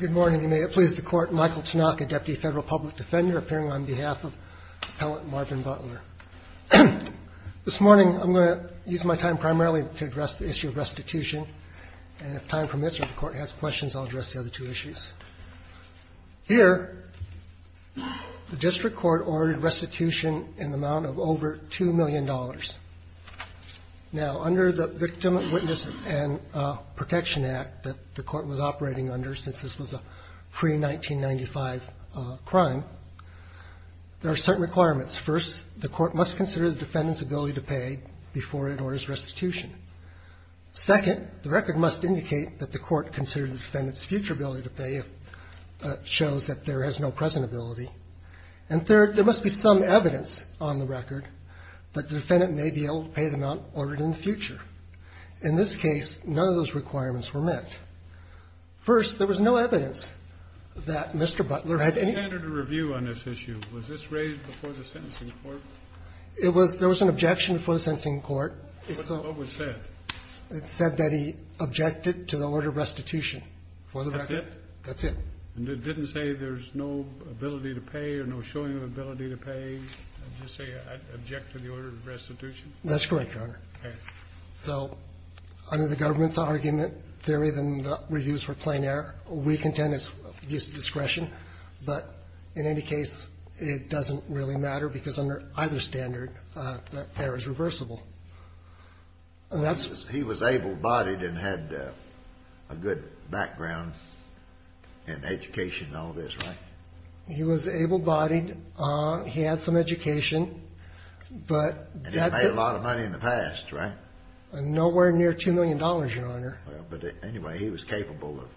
Good morning. You may have pleased the Court. Michael Tanaka, Deputy Federal Public Defender, appearing on behalf of Appellant Marvin Butler. This morning, I'm going to use my time primarily to address the issue of restitution, and if time permits or the Court has questions, I'll address the other two issues. Here, the District Court ordered restitution in the amount of over $2 million. Now, under the Victim, Witness, and Protection Act that the Court was operating under since this was a pre-1995 crime, there are certain requirements. First, the Court must consider the defendant's ability to pay before it orders restitution. Second, the record must indicate that the Court considered the defendant's future ability to pay if it shows that there is no present ability. And third, there must be some evidence on the record that the defendant may be able to pay the amount ordered in the future. In this case, none of those requirements were met. First, there was no evidence that Mr. Butler had any ---- The standard of review on this issue, was this raised before the sentencing court? It was. There was an objection before the sentencing court. What was said? It said that he objected to the order of restitution for the record. That's it? That's it. And it didn't say there's no ability to pay or no showing of ability to pay? Did it just say, I object to the order of restitution? That's correct, Your Honor. Okay. So under the government's argument, there isn't reviews for plain error. We contend it's abuse of discretion. But in any case, it doesn't really matter because under either standard, that error is reversible. He was able-bodied and had a good background in education and all this, right? He was able-bodied. He had some education. And he made a lot of money in the past, right? Nowhere near $2 million, Your Honor. But anyway, he was capable of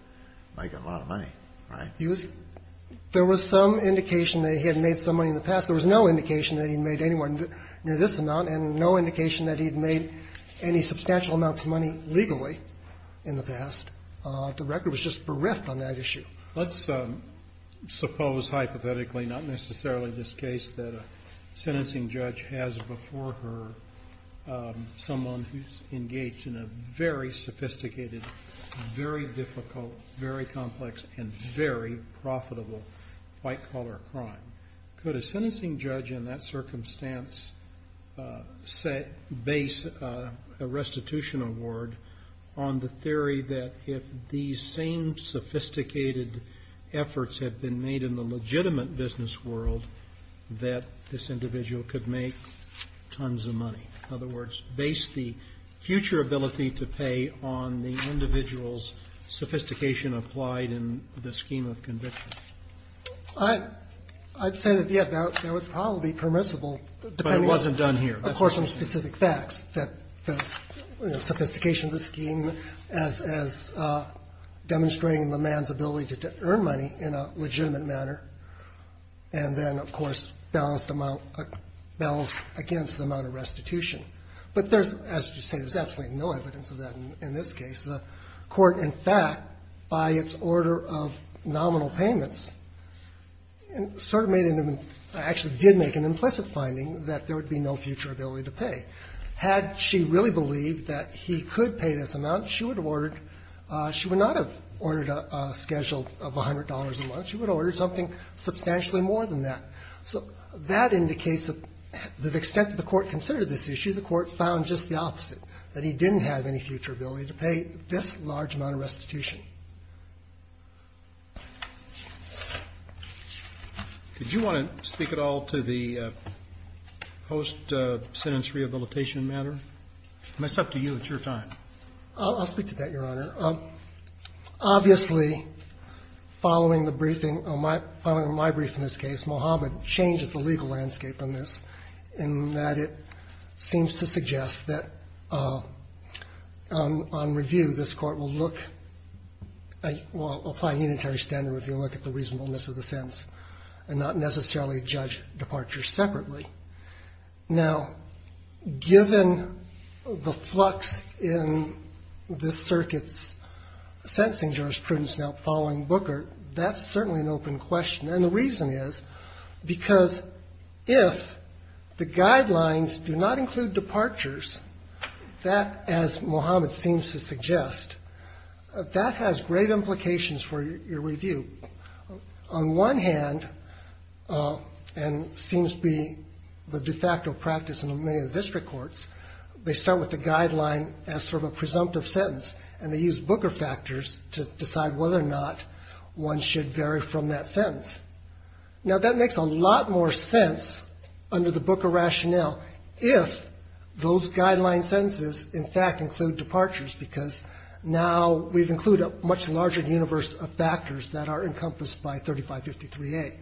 making a lot of money, right? There was some indication that he had made some money in the past. There was no indication that he had made any money near this amount and no indication that he had made any substantial amounts of money legally in the past. The record was just bereft on that issue. Let's suppose hypothetically, not necessarily this case, that a sentencing judge has before her someone who's engaged in a very sophisticated, very difficult, very complex, and very profitable white-collar crime. Could a sentencing judge in that circumstance base a restitution award on the theory that if these same sophisticated efforts have been made in the legitimate business world, that this individual could make tons of money? In other words, base the future ability to pay on the individual's sophistication applied in the scheme of conviction. I'd say that, yeah, that would probably be permissible, depending on the course of specific facts, that the sophistication of the scheme as demonstrating the man's ability to earn money in a legitimate manner, and then, of course, balanced against the amount of restitution. But there's, as you say, there's absolutely no evidence of that in this case. The Court, in fact, by its order of nominal payments, sort of made an, actually did make an implicit finding that there would be no future ability to pay. Had she really believed that he could pay this amount, she would have ordered – she would not have ordered a schedule of $100 a month. She would have ordered something substantially more than that. So that indicates that the extent that the Court considered this issue, the Court found just the opposite, that he didn't have any future ability to pay this large amount of restitution. Roberts. Did you want to speak at all to the post-sentence rehabilitation matter? I mean, it's up to you. It's your time. I'll speak to that, Your Honor. Obviously, following the briefing on my – following my brief in this case, Mohammed changes the legal landscape on this in that it seems to suggest that on review, this Court will look – will apply unitary standard review, look at the reasonableness of the sentence and not necessarily judge departure separately. Now, given the flux in this circuit's sentencing jurisprudence now following Booker, that's certainly an open question. And the reason is because if the guidelines do not include departures, that, as Mohammed seems to suggest, that has great implications for your review. On one hand, and seems to be the de facto practice in many of the district courts, they start with the guideline as sort of a presumptive sentence, and they use Booker factors to decide whether or not one should vary from that sentence. Now, that makes a lot more sense under the Booker rationale if those guideline sentences in fact include departures because now we've included a much larger universe of factors that are encompassed by 3553A.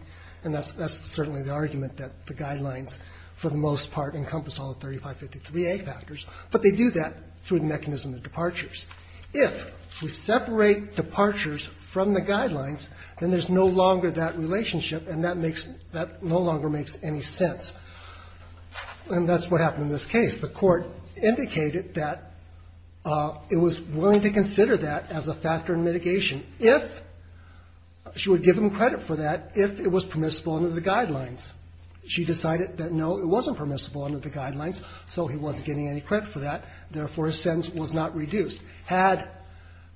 And that's certainly the argument that the guidelines, for the most part, encompass all of 3553A factors, but they do that through the mechanism of departures. If we separate departures from the guidelines, then there's no longer that relationship and that makes no longer makes any sense. And that's what happened in this case. The Court indicated that it was willing to consider that as a factor in mitigation if she would give him credit for that if it was permissible under the guidelines. She decided that, no, it wasn't permissible under the guidelines, so he wasn't getting any credit for that. Therefore, his sentence was not reduced. Had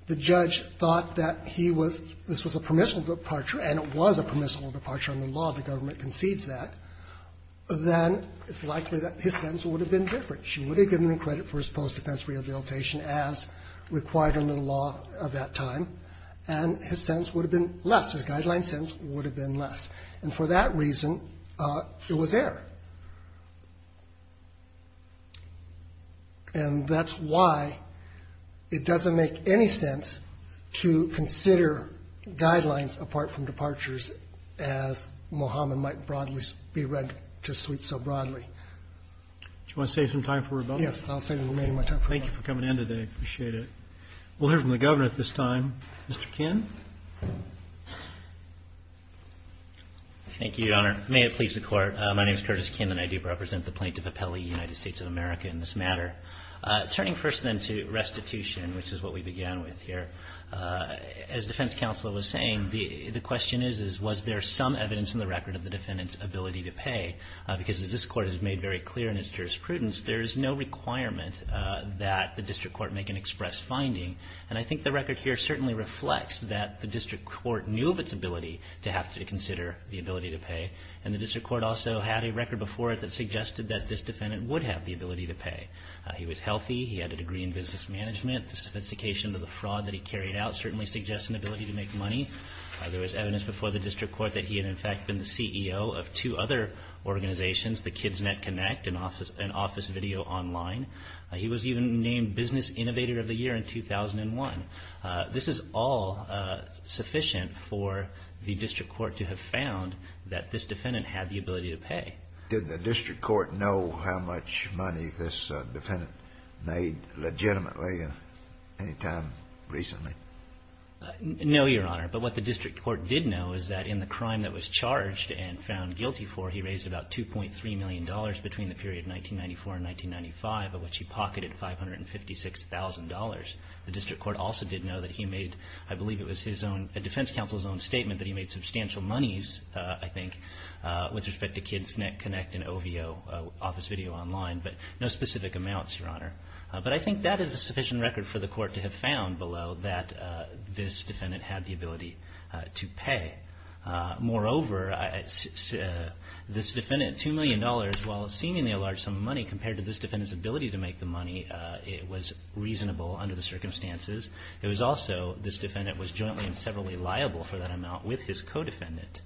the judge thought that this was a permissible departure, and it was a permissible departure under the law, the government concedes that, then it's likely that his sentence would have been different. She would have given him credit for his post-defense rehabilitation as required under the law of that time, and his sentence would have been less. His guideline sentence would have been less. And for that reason, it was there. And that's why it doesn't make any sense to consider guidelines apart from departures as Mohammed might broadly be read to sweep so broadly. Do you want to save some time for rebuttal? Yes, I'll save the remaining of my time for rebuttal. Thank you for coming in today. I appreciate it. We'll hear from the Governor at this time. Mr. Kinn. May it please the Court. My name is Curtis Kinn. And I do represent the plaintiff appellee, United States of America, in this matter. Turning first then to restitution, which is what we began with here, as defense counsel was saying, the question is, was there some evidence in the record of the defendant's ability to pay? Because as this Court has made very clear in its jurisprudence, there is no requirement that the district court make an express finding. And I think the record here certainly reflects that the district court knew of its ability to have to consider the ability to pay. And the district court also had a record before it that suggested that this defendant would have the ability to pay. He was healthy. He had a degree in business management. The sophistication of the fraud that he carried out certainly suggests an ability to make money. There was evidence before the district court that he had, in fact, been the CEO of two other organizations, the Kids Net Connect and Office Video Online. He was even named Business Innovator of the Year in 2001. This is all sufficient for the district court to have found that this defendant had the ability to pay. Did the district court know how much money this defendant made legitimately any time recently? No, Your Honor. But what the district court did know is that in the crime that was charged and found guilty for, he raised about $2.3 million between the period 1994 and 1995, of which he pocketed $556,000. The district court also did know that he made, I believe it was his own, a defense counsel's own statement that he made substantial monies, I think, with respect to Kids Net Connect and OVO, Office Video Online, but no specific amounts, Your Honor. But I think that is a sufficient record for the court to have found below that this defendant had the ability to pay. Moreover, this defendant, $2 million, while a seemingly large sum of money, compared to this defendant's ability to make the money, it was reasonable under the circumstances. It was also, this defendant was jointly and severally liable for that amount with his co-defendant.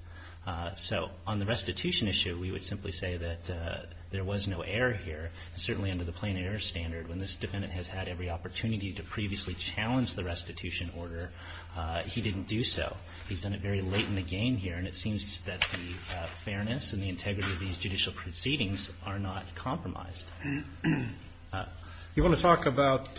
So on the restitution issue, we would simply say that there was no error here. Certainly under the plain error standard, when this defendant has had every opportunity to previously challenge the restitution order, he didn't do so. He's done it very late in the game here, and it seems that the fairness and the integrity of these judicial proceedings are not compromised. You want to talk about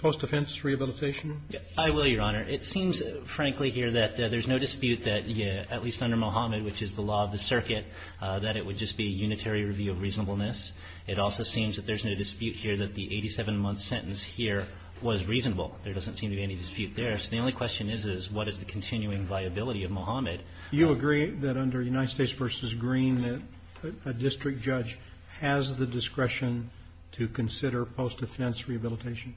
post-defense rehabilitation? I will, Your Honor. It seems, frankly, here that there's no dispute that, at least under Mohammed, which is the law of the circuit, that it would just be a unitary review of reasonableness. It also seems that there's no dispute here that the 87-month sentence here was reasonable. There doesn't seem to be any dispute there. You agree that under United States v. Green that a district judge has the discretion to consider post-defense rehabilitation?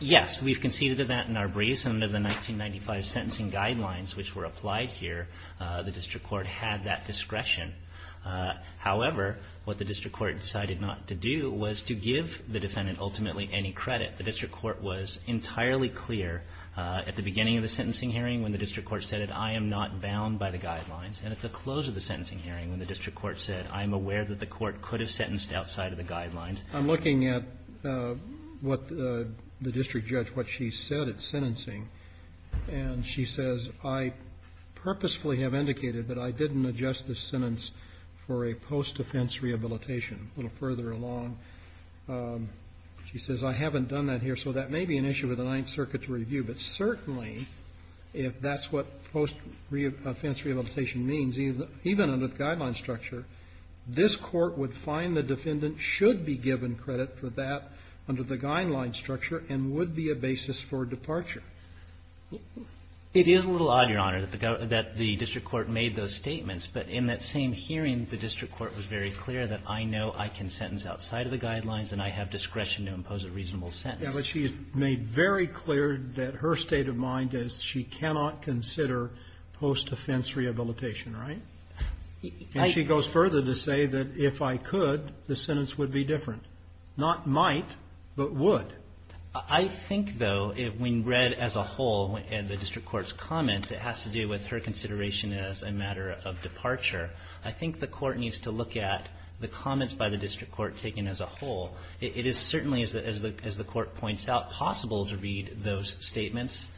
Yes. We've conceded to that in our briefs, and under the 1995 sentencing guidelines, which were applied here, the district court had that discretion. However, what the district court decided not to do was to give the defendant ultimately any credit. The district court was entirely clear at the beginning of the sentencing hearing when the district court said, I am not bound by the guidelines. And at the close of the sentencing hearing when the district court said, I am aware that the court could have sentenced outside of the guidelines. I'm looking at what the district judge, what she said at sentencing, and she says, I purposefully have indicated that I didn't adjust the sentence for a post-defense rehabilitation. A little further along, she says, I haven't done that here. So that may be an issue for the Ninth Circuit to review. But certainly, if that's what post-defense rehabilitation means, even under the guideline structure, this Court would find the defendant should be given credit for that under the guideline structure and would be a basis for departure. It is a little odd, Your Honor, that the district court made those statements. But in that same hearing, the district court was very clear that I know I can sentence outside of the guidelines and I have discretion to impose a reasonable sentence. But she made very clear that her state of mind is she cannot consider post-defense rehabilitation, right? And she goes further to say that if I could, the sentence would be different. Not might, but would. I think, though, when read as a whole in the district court's comments, it has to do with her consideration as a matter of departure. I think the court needs to look at the comments by the district court taken as a whole. It is certainly, as the Court points out, possible to read those statements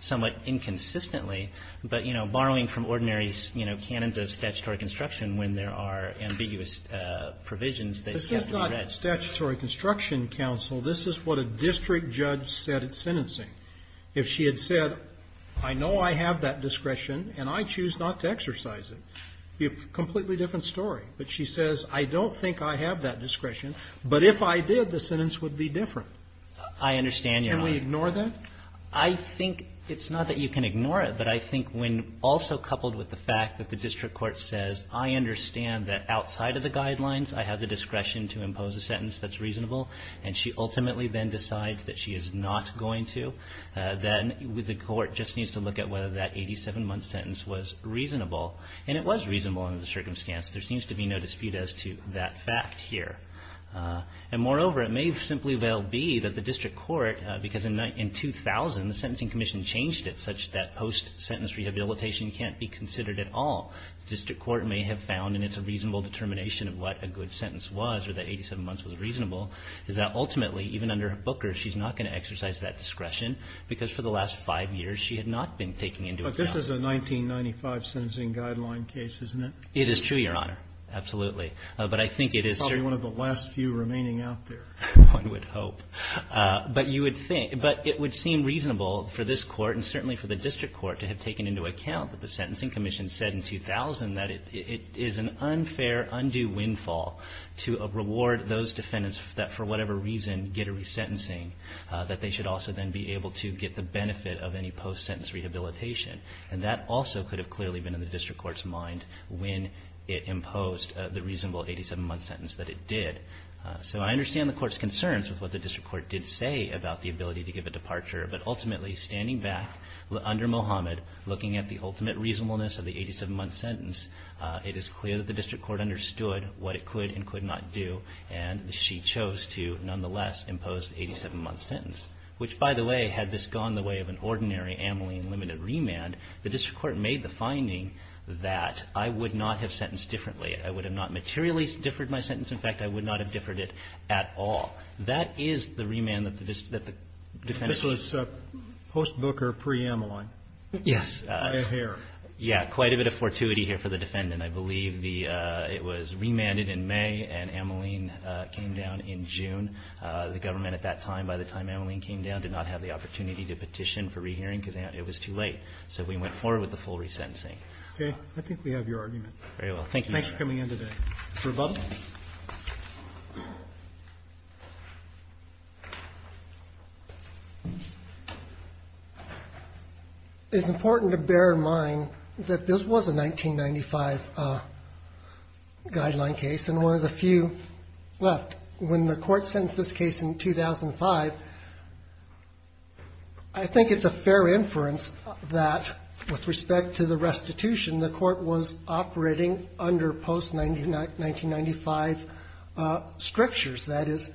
somewhat inconsistently. But, you know, borrowing from ordinary, you know, canons of statutory construction when there are ambiguous provisions that have to be read. This is not statutory construction, counsel. This is what a district judge said at sentencing. If she had said, I know I have that discretion and I choose not to exercise it, it would be a completely different story. But she says, I don't think I have that discretion, but if I did, the sentence would be different. And we ignore that? I think it's not that you can ignore it, but I think when also coupled with the fact that the district court says, I understand that outside of the guidelines I have the discretion to impose a sentence that's reasonable, and she ultimately then decides that she is not going to, then the court just needs to look at whether that 87-month sentence was reasonable. And it was reasonable under the circumstance. There seems to be no dispute as to that fact here. And, moreover, it may simply well be that the district court, because in 2000 the Sentencing Commission changed it such that post-sentence rehabilitation can't be considered at all, the district court may have found, and it's a reasonable determination of what a good sentence was or that 87 months was reasonable, is that ultimately, even under Booker, she's not going to exercise that discretion because for the last five years she had not been taking into account. This is a 1995 sentencing guideline case, isn't it? It is true, Your Honor. Absolutely. But I think it is. Probably one of the last few remaining out there. One would hope. But you would think. But it would seem reasonable for this court and certainly for the district court to have taken into account that the Sentencing Commission said in 2000 that it is an unfair, undue windfall to reward those defendants that for whatever reason get a resentencing, that they should also then be able to get the benefit of any post-sentence rehabilitation. And that also could have clearly been in the district court's mind when it imposed the reasonable 87-month sentence that it did. So I understand the court's concerns with what the district court did say about the ability to give a departure. But ultimately, standing back under Mohammed, looking at the ultimate reasonableness of the 87-month sentence, it is clear that the district court understood what it could and could not do, and she chose to nonetheless impose the 87-month sentence. Which, by the way, had this gone the way of an ordinary Ameline limited remand, the district court made the finding that I would not have sentenced differently. I would have not materially differed my sentence. In fact, I would not have differed it at all. That is the remand that the defense ---- This was post-Booker, pre-Ameline. Yes. Right here. Yes. Quite a bit of fortuity here for the defendant, I believe. It was remanded in May and Ameline came down in June. The government at that time, by the time Ameline came down, did not have the opportunity to petition for rehearing because it was too late. So we went forward with the full resentencing. Okay. I think we have your argument. Very well. Thank you, Your Honor. Thanks for coming in today. Mr. Bublin. It's important to bear in mind that this was a 1995 guideline case, and one of the few left. When the court sentenced this case in 2005, I think it's a fair inference that with respect to the restitution, the court was operating under post-1995 strictures. That is,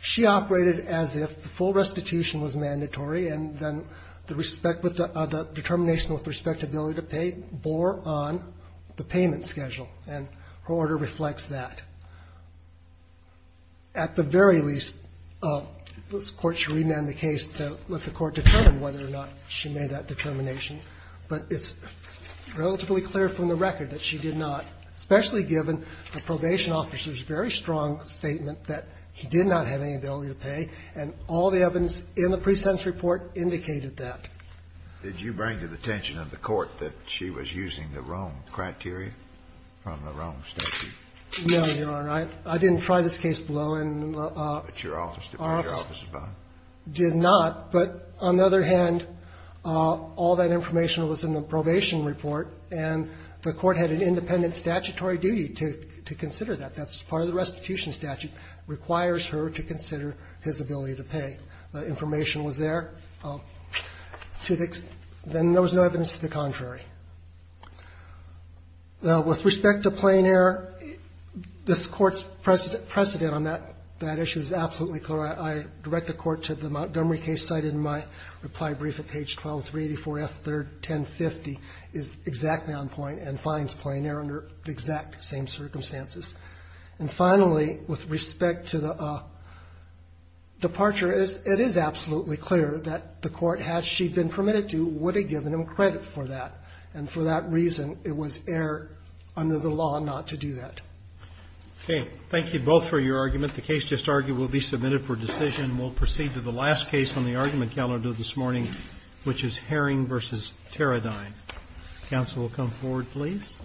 she operated as if the full restitution was mandatory and then the determination with respectability to pay bore on the payment schedule. And her order reflects that. At the very least, this Court should remand the case to let the Court determine whether or not she made that determination. But it's relatively clear from the record that she did not, especially given the probation officer's very strong statement that he did not have any ability to pay, and all the evidence in the pre-sentence report indicated that. Did you bring to the attention of the Court that she was using the Rome criteria from the Rome statute? No, Your Honor. I didn't try this case below in the office. But your office did. Your office did not. But on the other hand, all that information was in the probation report, and the Court had an independent statutory duty to consider that. That's part of the restitution statute, requires her to consider his ability to pay. The information was there. Then there was no evidence to the contrary. Now, with respect to plain error, this Court's precedent on that issue is absolutely clear. I direct the Court to the Montgomery case cited in my reply brief at page 12, 384F, third, 1050, is exactly on point and finds plain error under the exact same circumstances. And finally, with respect to the departure, it is absolutely clear that the Court, had she been permitted to, would have given him credit for that. And for that reason, it was error under the law not to do that. Okay. Thank you both for your argument. The case just argued will be submitted for decision. We'll proceed to the last case on the argument calendar this morning, which is Herring v. Teradyne. Counsel will come forward, please. Thank you.